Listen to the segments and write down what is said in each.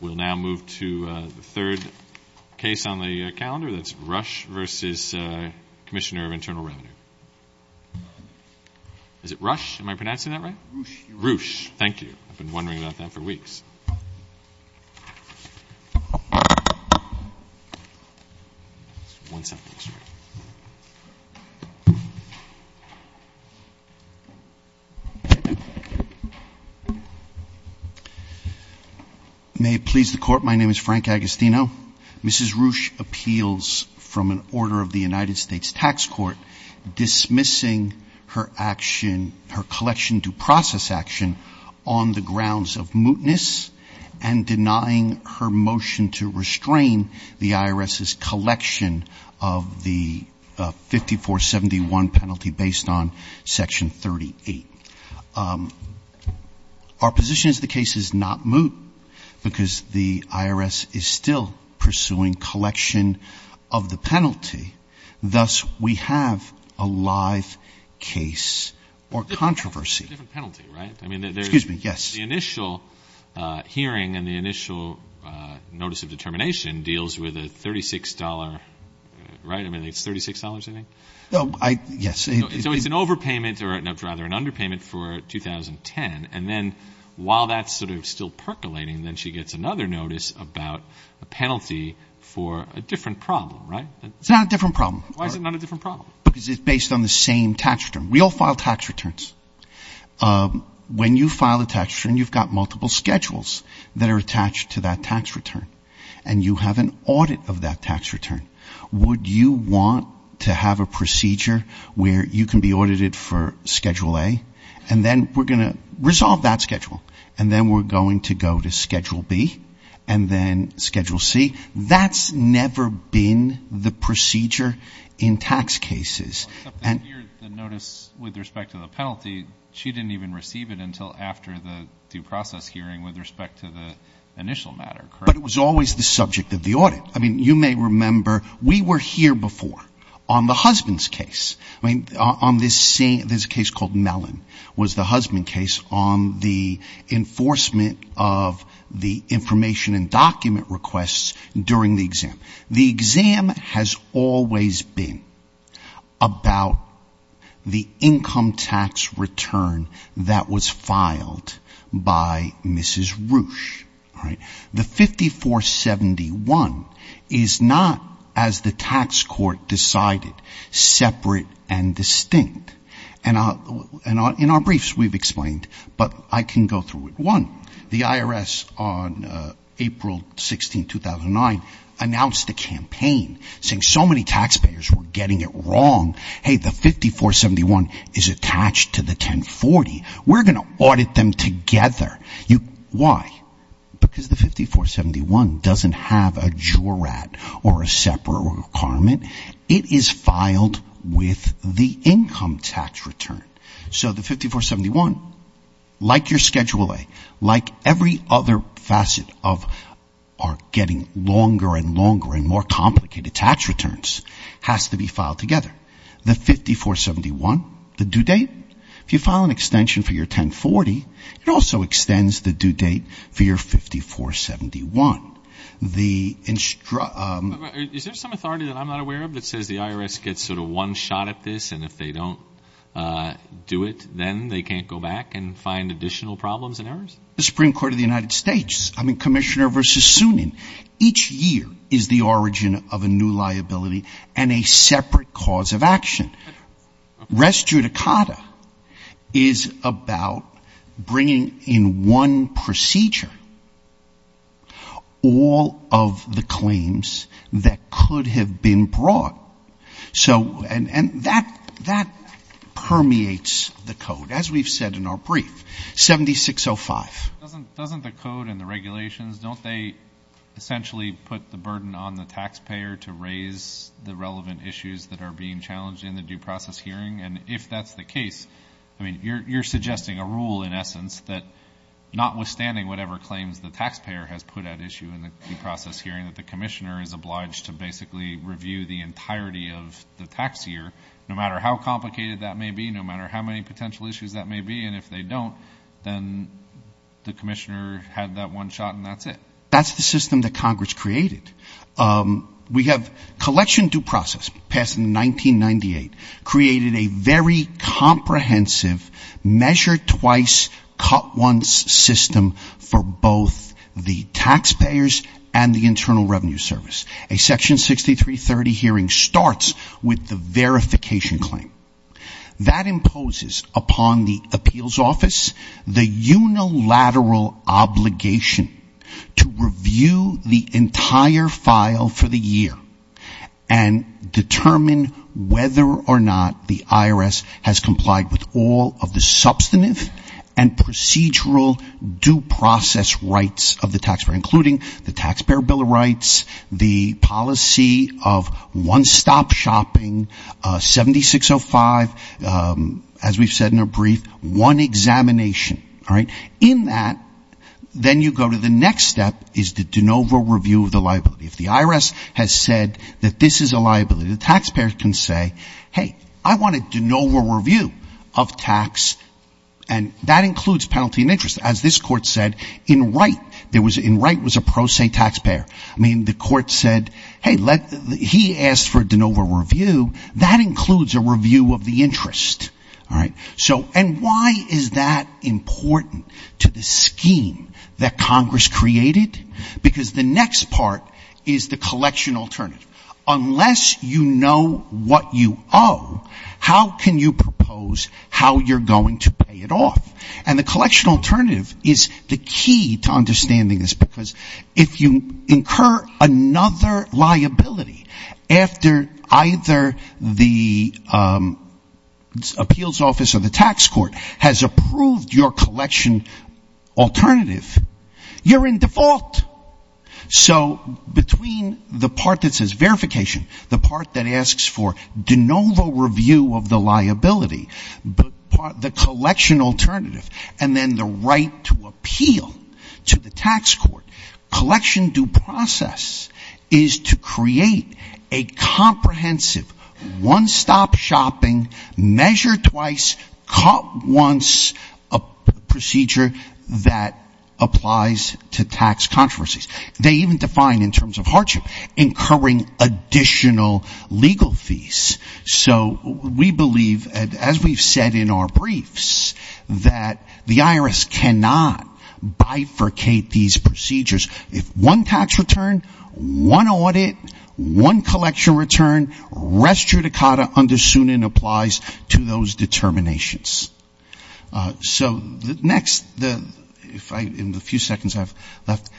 We'll now move to the third case on the calendar. That's Ruech v. Commissioner of Internal Revenue. Is it Ruech? Am I pronouncing that right? Ruech. Ruech. Thank you. I've been wondering about that for weeks. May it please the Court, my name is Frank Agostino. Mrs. Ruech appeals from an order of the United States Tax Court dismissing her collection due process action on the grounds of mootness and denying her motion to restrain the IRS's collection of the 5471 penalty based on Section 38. Our position is the case is not moot because the IRS is still pursuing collection of the penalty. Thus, we have a live case or controversy. It's a different penalty, right? Excuse me, yes. The initial hearing and the initial notice of determination deals with a $36, right? I mean, it's $36, I think? Yes. So it's an overpayment or rather an underpayment for 2010. And then while that's sort of still percolating, then she gets another notice about a penalty for a different problem, right? It's not a different problem. Why is it not a different problem? Because it's based on the same tax return. We all file tax returns. When you file a tax return, you've got multiple schedules that are attached to that tax return. And you have an audit of that tax return. Would you want to have a procedure where you can be audited for Schedule A, and then we're going to resolve that schedule, and then we're going to go to Schedule B, and then Schedule C? That's never been the procedure in tax cases. Except that here, the notice with respect to the penalty, she didn't even receive it until after the due process hearing with respect to the initial matter, correct? But it was always the subject of the audit. I mean, you may remember we were here before on the husband's case. I mean, on this case called Mellon was the husband's case on the enforcement of the information and document requests during the exam. The exam has always been about the income tax return that was filed by Mrs. Roosh, right? The 5471 is not, as the tax court decided, separate and distinct. And in our briefs we've explained, but I can go through it. One, the IRS on April 16, 2009, announced a campaign saying so many taxpayers were getting it wrong. Hey, the 5471 is attached to the 1040. We're going to audit them together. Why? Because the 5471 doesn't have a jurat or a separate requirement. It is filed with the income tax return. So the 5471, like your Schedule A, like every other facet of our getting longer and longer and more complicated tax returns, has to be filed together. The 5471, the due date, if you file an extension for your 1040, it also extends the due date for your 5471. Is there some authority that I'm not aware of that says the IRS gets sort of one shot at this, and if they don't do it, then they can't go back and find additional problems and errors? The Supreme Court of the United States, I mean, Commissioner versus Sunin, each year is the origin of a new liability and a separate cause of action. Res judicata is about bringing in one procedure all of the claims that could have been brought. And that permeates the code, as we've said in our brief. 7605. Don't they essentially put the burden on the taxpayer to raise the relevant issues that are being challenged in the due process hearing? And if that's the case, I mean, you're suggesting a rule, in essence, that notwithstanding whatever claims the taxpayer has put at issue in the due process hearing, that the commissioner is obliged to basically review the entirety of the tax year, no matter how complicated that may be, no matter how many potential issues that may be. And if they don't, then the commissioner had that one shot and that's it. That's the system that Congress created. We have collection due process passed in 1998 created a very comprehensive, measured twice, cut once system for both the taxpayers and the Internal Revenue Service. A Section 6330 hearing starts with the verification claim. That imposes upon the appeals office the unilateral obligation to review the entire file for the year and determine whether or not the IRS has complied with all of the substantive and procedural due process rights of the taxpayer, including the Taxpayer Bill of Rights, the policy of one-stop shopping, 7605, as we've said in a brief, one examination. All right. In that, then you go to the next step is the de novo review of the liability. If the IRS has said that this is a liability, the taxpayer can say, hey, I want a de novo review of tax. And that includes penalty and interest. As this court said, in right, in right was a pro se taxpayer. I mean, the court said, hey, he asked for a de novo review. That includes a review of the interest. All right. And why is that important to the scheme that Congress created? Because the next part is the collection alternative. Unless you know what you owe, how can you propose how you're going to pay it off? And the collection alternative is the key to understanding this, because if you incur another liability after either the appeals office or the tax court has approved your collection alternative, you're in default. So between the part that says verification, the part that asks for de novo review of the liability, the collection alternative, and then the right to appeal to the tax court, collection due process is to create a comprehensive one-stop shopping, measure twice, cut once, a procedure that applies to tax controversies. They even define in terms of hardship, incurring additional legal fees. So we believe, as we've said in our briefs, that the IRS cannot bifurcate these procedures. If one tax return, one audit, one collection return, rest judicata under SUNIN applies to those determinations. So the next, if I, in the few seconds I have left.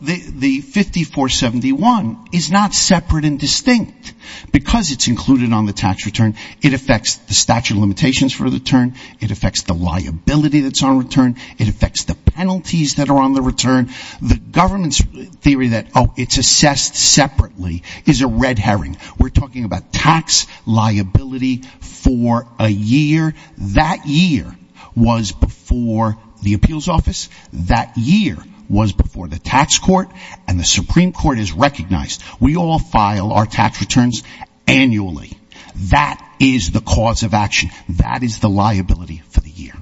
The 5471 is not separate and distinct because it's included on the tax return. It affects the statute of limitations for the return. It affects the liability that's on return. It affects the penalties that are on the return. The government's theory that, oh, it's assessed separately is a red herring. We're talking about tax liability for a year. That year was before the appeals office. That year was before the tax court. And the Supreme Court has recognized we all file our tax returns annually. That is the cause of action. That is the liability for the year.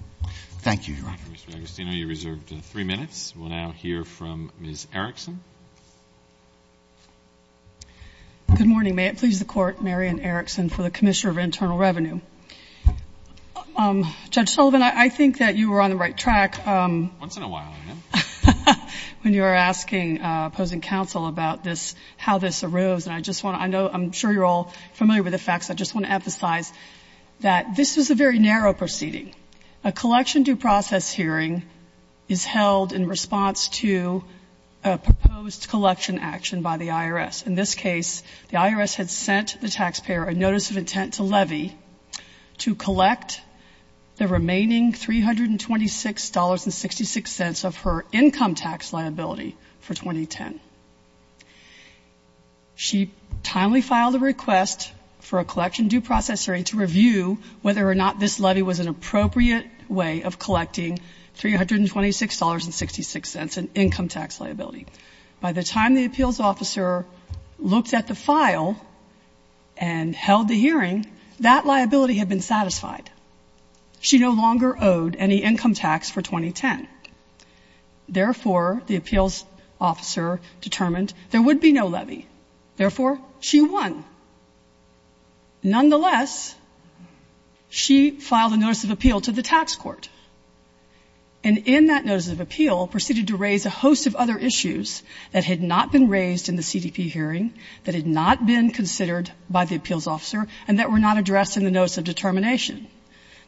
Thank you, Your Honor. Mr. Agostino, you're reserved three minutes. We'll now hear from Ms. Erickson. Good morning. May it please the Court, Marian Erickson for the Commissioner of Internal Revenue. Judge Sullivan, I think that you were on the right track. Once in a while, yeah. When you were asking opposing counsel about this, how this arose. And I just want to, I know, I'm sure you're all familiar with the facts. I just want to emphasize that this is a very narrow proceeding. A collection due process hearing is held in response to a proposed collection action by the IRS. In this case, the IRS had sent the taxpayer a notice of intent to levy to collect the remaining $326.66 of her income tax liability for 2010. She timely filed a request for a collection due process hearing to review whether or not this levy was an appropriate way of collecting $326.66 in income tax liability. By the time the appeals officer looked at the file and held the hearing, that liability had been satisfied. She no longer owed any income tax for 2010. Therefore, the appeals officer determined there would be no levy. Therefore, she won. Nonetheless, she filed a notice of appeal to the tax court. And in that notice of appeal, proceeded to raise a host of other issues that had not been raised in the CDP hearing, that had not been considered by the appeals officer, and that were not addressed in the notice of determination.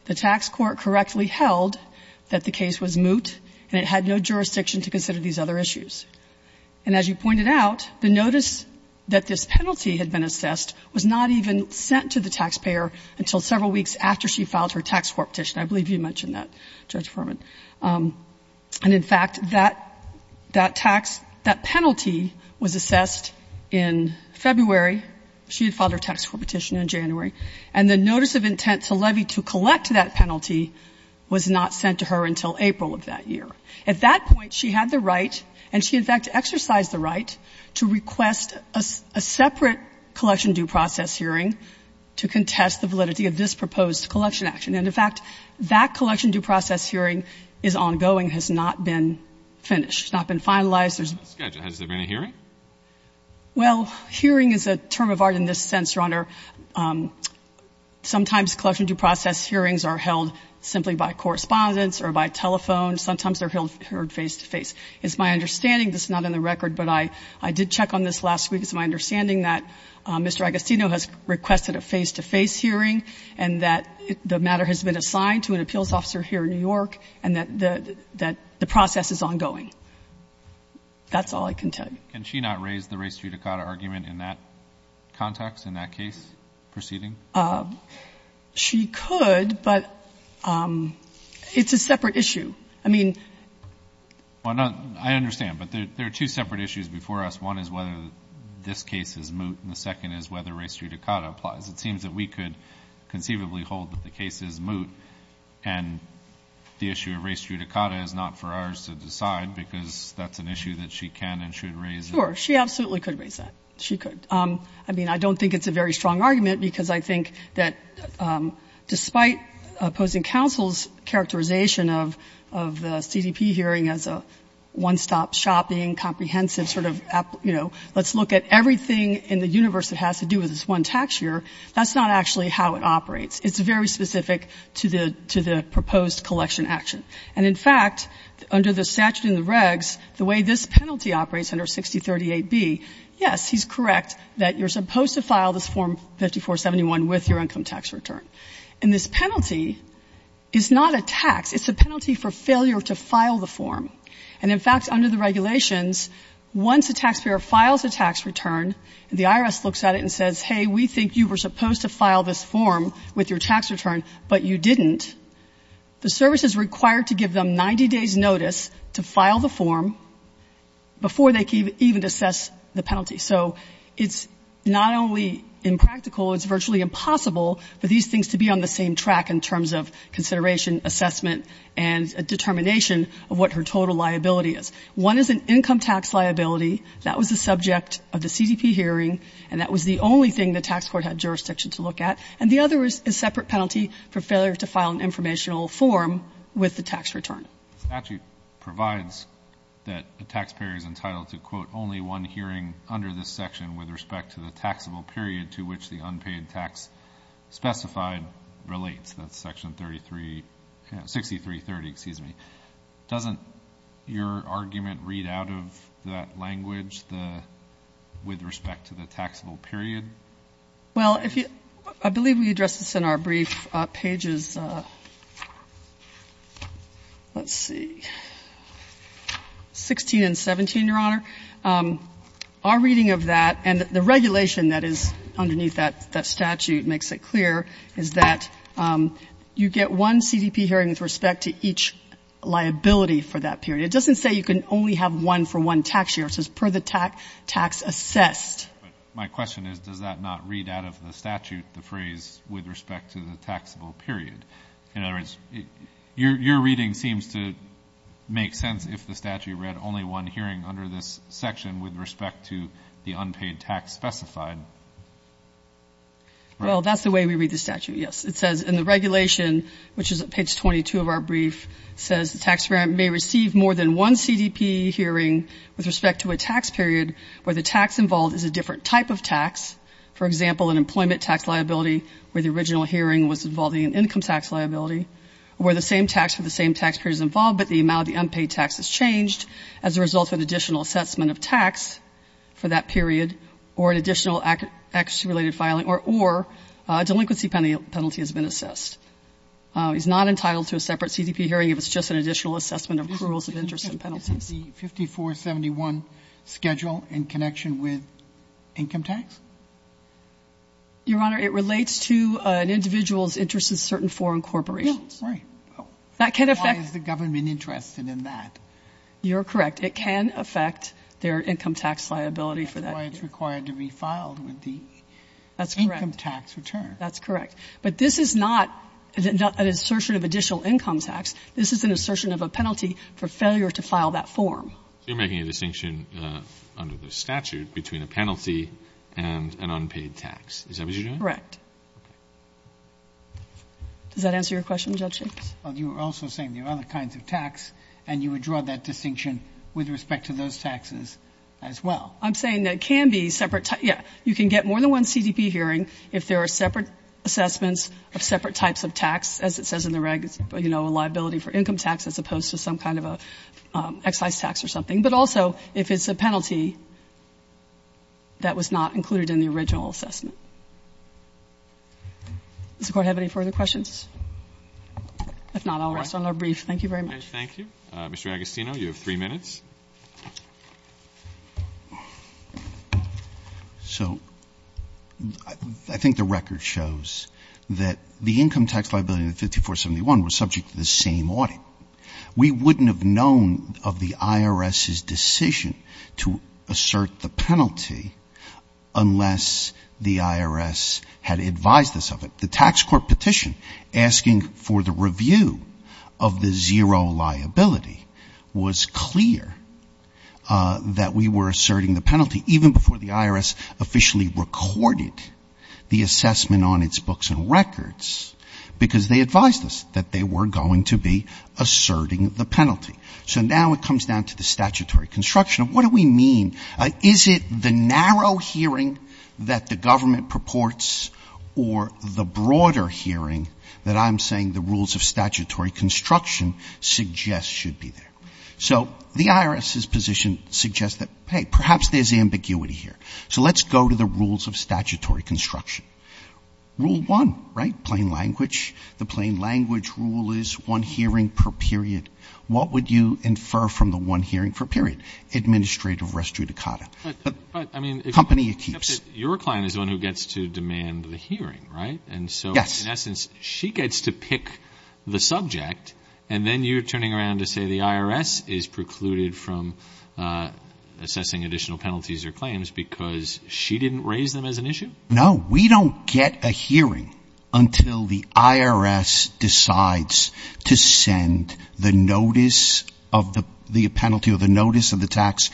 The tax court correctly held that the case was moot and it had no jurisdiction to consider these other issues. And as you pointed out, the notice that this penalty had been assessed was not even sent to the taxpayer until several weeks after she filed her tax court petition. I believe you mentioned that, Judge Foreman. And in fact, that tax, that penalty was assessed in February. She had filed her tax court petition in January. And the notice of intent to levy to collect that penalty was not sent to her until April of that year. At that point, she had the right, and she in fact exercised the right, to request a separate collection due process hearing to contest the validity of this proposed collection action. And in fact, that collection due process hearing is ongoing, has not been finished. It's not been finalized. There's no schedule. Has there been a hearing? Well, hearing is a term of art in this sense, Your Honor. Sometimes collection due process hearings are held simply by correspondence or by telephone. Sometimes they're held face to face. It's my understanding, this is not in the record, but I did check on this last week. It's my understanding that Mr. Agostino has requested a face-to-face hearing and that the matter has been assigned to an appeals officer here in New York and that the process is ongoing. That's all I can tell you. Can she not raise the race judicata argument in that context, in that case proceeding? She could, but it's a separate issue. I mean — Well, I understand, but there are two separate issues before us. One is whether this case is moot, and the second is whether race judicata applies. It seems that we could conceivably hold that the case is moot, and the issue of race judicata is not for ours to decide, because that's an issue that she can and should raise. Sure. She absolutely could raise that. She could. I mean, I don't think it's a very strong argument, because I think that despite opposing counsel's characterization of the CDP hearing as a one-stop shopping, comprehensive sort of, you know, let's look at everything in the universe that has to do with this one tax year, that's not actually how it operates. It's very specific to the proposed collection action. And in fact, under the statute in the regs, the way this penalty operates under 6038B, yes, he's correct that you're supposed to file this Form 5471 with your income tax return. And this penalty is not a tax. It's a penalty for failure to file the form. And in fact, under the regulations, once a taxpayer files a tax return, the IRS looks at it and says, hey, we think you were supposed to file this form with your tax return, but you didn't, the service is required to give them 90 days' notice to file the form before they can even assess the penalty. So it's not only impractical, it's virtually impossible for these things to be on the same track in terms of consideration, assessment, and determination of what her total liability is. One is an income tax liability. That was the subject of the CDP hearing, and that was the only thing the tax court had jurisdiction to look at. And the other is a separate penalty for failure to file an informational form with the tax return. The statute provides that a taxpayer is entitled to, quote, only one hearing under this section with respect to the taxable period to which the unpaid tax specified relates. That's Section 33, 6330, excuse me. Doesn't your argument read out of that language, the with respect to the taxable period? Well, I believe we addressed this in our brief pages, let's see, 16 and 17, Your Honor. Our reading of that and the regulation that is underneath that statute makes it clear is that you get one CDP hearing with respect to each liability for that period. It doesn't say you can only have one for one tax year. It says per the tax assessed. But my question is, does that not read out of the statute, the phrase with respect to the taxable period? In other words, your reading seems to make sense if the statute read only one hearing under this section with respect to the unpaid tax specified. Well, that's the way we read the statute, yes. It says in the regulation, which is at page 22 of our brief, says the taxpayer may receive more than one CDP hearing with respect to a tax period where the tax involved is a different type of tax, for example, an employment tax liability where the original hearing was involving an income tax liability, where the same tax for the same tax period is involved but the amount of the unpaid tax is changed as a result of an additional assessment of tax for that period or an additional accuracy-related filing or a delinquency penalty has been assessed. It's not entitled to a separate CDP hearing if it's just an additional assessment of accruals of interest and penalties. Is the 5471 schedule in connection with income tax? Your Honor, it relates to an individual's interest in certain foreign corporations. Right. Why is the government interested in that? You're correct. It can affect their income tax liability for that period. That's why it's required to be filed with the income tax return. That's correct. But this is not an assertion of additional income tax. This is an assertion of a penalty for failure to file that form. So you're making a distinction under the statute between a penalty and an unpaid tax. Is that what you're doing? Correct. Does that answer your question, Judge Jacobs? Well, you were also saying there are other kinds of tax, and you would draw that distinction with respect to those taxes as well. I'm saying that it can be separate. Yeah. You can get more than one CDP hearing if there are separate assessments of separate types of tax, as it says in the regs, you know, a liability for income tax as opposed to some kind of an excise tax or something, but also if it's a penalty that was not included in the original assessment. Does the Court have any further questions? If not, I'll rest on our brief. Thank you very much. Okay. Thank you. Mr. Agostino, you have three minutes. So I think the record shows that the income tax liability in the 5471 was subject to the same audit. We wouldn't have known of the IRS's decision to assert the penalty unless the IRS had advised us of it. The tax court petition asking for the review of the zero liability was clear that we were asserting the penalty, even before the IRS officially recorded the assessment on its books and records, because they advised us that they were going to be asserting the penalty. So now it comes down to the statutory construction of what do we mean? Is it the narrow hearing that the government purports or the broader hearing that I'm saying the rules of statutory construction suggest should be there? So the IRS's position suggests that, hey, perhaps there's ambiguity here. So let's go to the rules of statutory construction. Rule one, right, plain language. The plain language rule is one hearing per period. What would you infer from the one hearing per period? Administrative res judicata. Company it keeps. Your client is the one who gets to demand the hearing, right? Yes. And so, in essence, she gets to pick the subject, and then you're turning around to say the IRS is precluded from assessing additional penalties or claims because she didn't raise them as an issue? No, we don't get a hearing until the IRS decides to send the notice of the penalty or the notice of the tax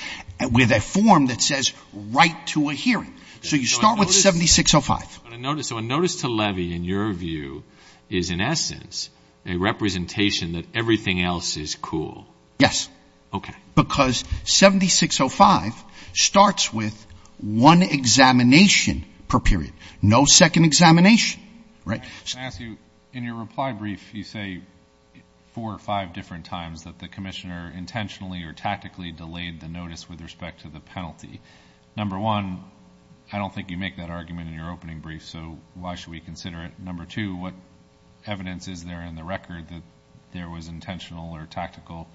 with a form that says write to a hearing. So you start with 7605. So a notice to levy, in your view, is, in essence, a representation that everything else is cool? Yes. Okay. Because 7605 starts with one examination per period, no second examination, right? In your reply brief, you say four or five different times that the commissioner intentionally or tactically delayed the notice with respect to the penalty. Number one, I don't think you make that argument in your opening brief, so why should we consider it? Number two, what evidence is there in the record that there was intentional or tactical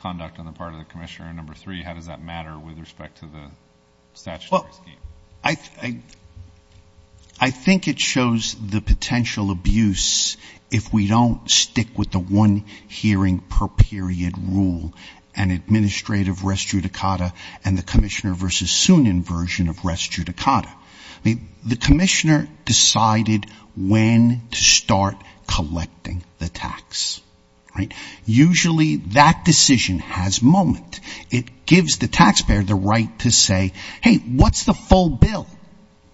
conduct on the part of the commissioner? And number three, how does that matter with respect to the statutory scheme? I think it shows the potential abuse if we don't stick with the one hearing per period rule and administrative res judicata and the commissioner versus SUNIN version of res judicata. The commissioner decided when to start collecting the tax, right? Usually that decision has moment. It gives the taxpayer the right to say, hey, what's the full bill,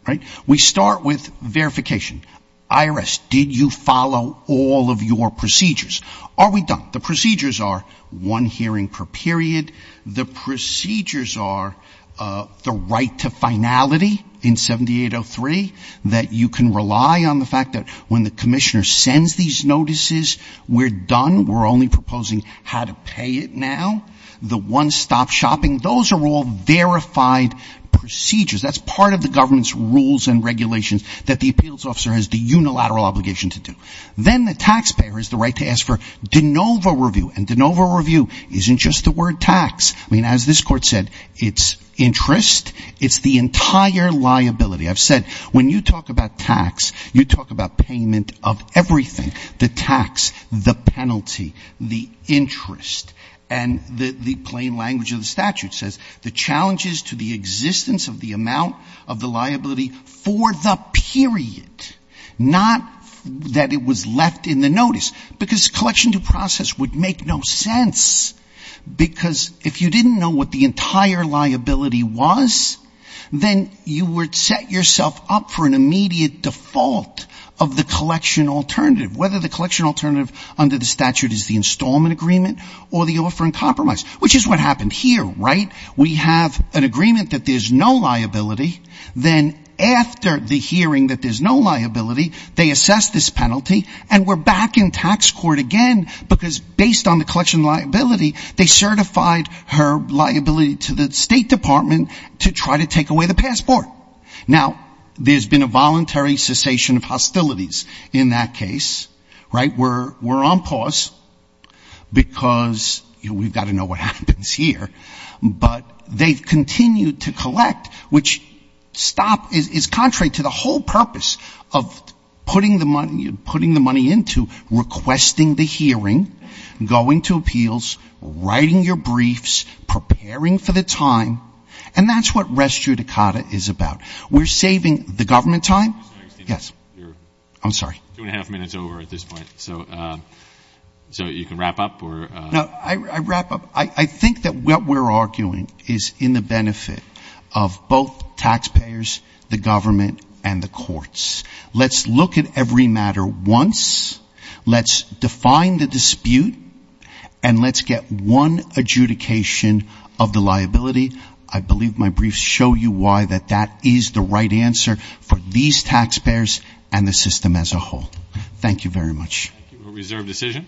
right? We start with verification. IRS, did you follow all of your procedures? Are we done? The procedures are one hearing per period. The procedures are the right to finality in 7803, that you can rely on the fact that when the commissioner sends these notices, we're done, we're only proposing how to pay it now. The one-stop shopping, those are all verified procedures. That's part of the government's rules and regulations that the appeals officer has the unilateral obligation to do. Then the taxpayer has the right to ask for de novo review, and de novo review isn't just the word tax. I mean, as this court said, it's interest. It's the entire liability. I've said when you talk about tax, you talk about payment of everything. The tax, the penalty, the interest, and the plain language of the statute says, the challenge is to the existence of the amount of the liability for the period, not that it was left in the notice, because collection due process would make no sense, because if you didn't know what the entire liability was, then you would set yourself up for an immediate default of the collection alternative, whether the collection alternative under the statute is the installment agreement or the offer in compromise, which is what happened here, right? We have an agreement that there's no liability. Then after the hearing that there's no liability, they assess this penalty, and we're back in tax court again, because based on the collection liability, they certified her liability to the State Department to try to take away the passport. Now, there's been a voluntary cessation of hostilities in that case, right? We're on pause, because, you know, we've got to know what happens here. But they've continued to collect, which is contrary to the whole purpose of putting the money into, requesting the hearing, going to appeals, writing your briefs, preparing for the time, and that's what res judicata is about. We're saving the government time. Yes. I'm sorry. You're two and a half minutes over at this point, so you can wrap up. No, I wrap up. I think that what we're arguing is in the benefit of both taxpayers, the government, and the courts. Let's look at every matter once. Let's define the dispute, and let's get one adjudication of the liability. I believe my briefs show you why that that is the right answer for these taxpayers and the system as a whole. Thank you very much. Thank you. We'll reserve decision.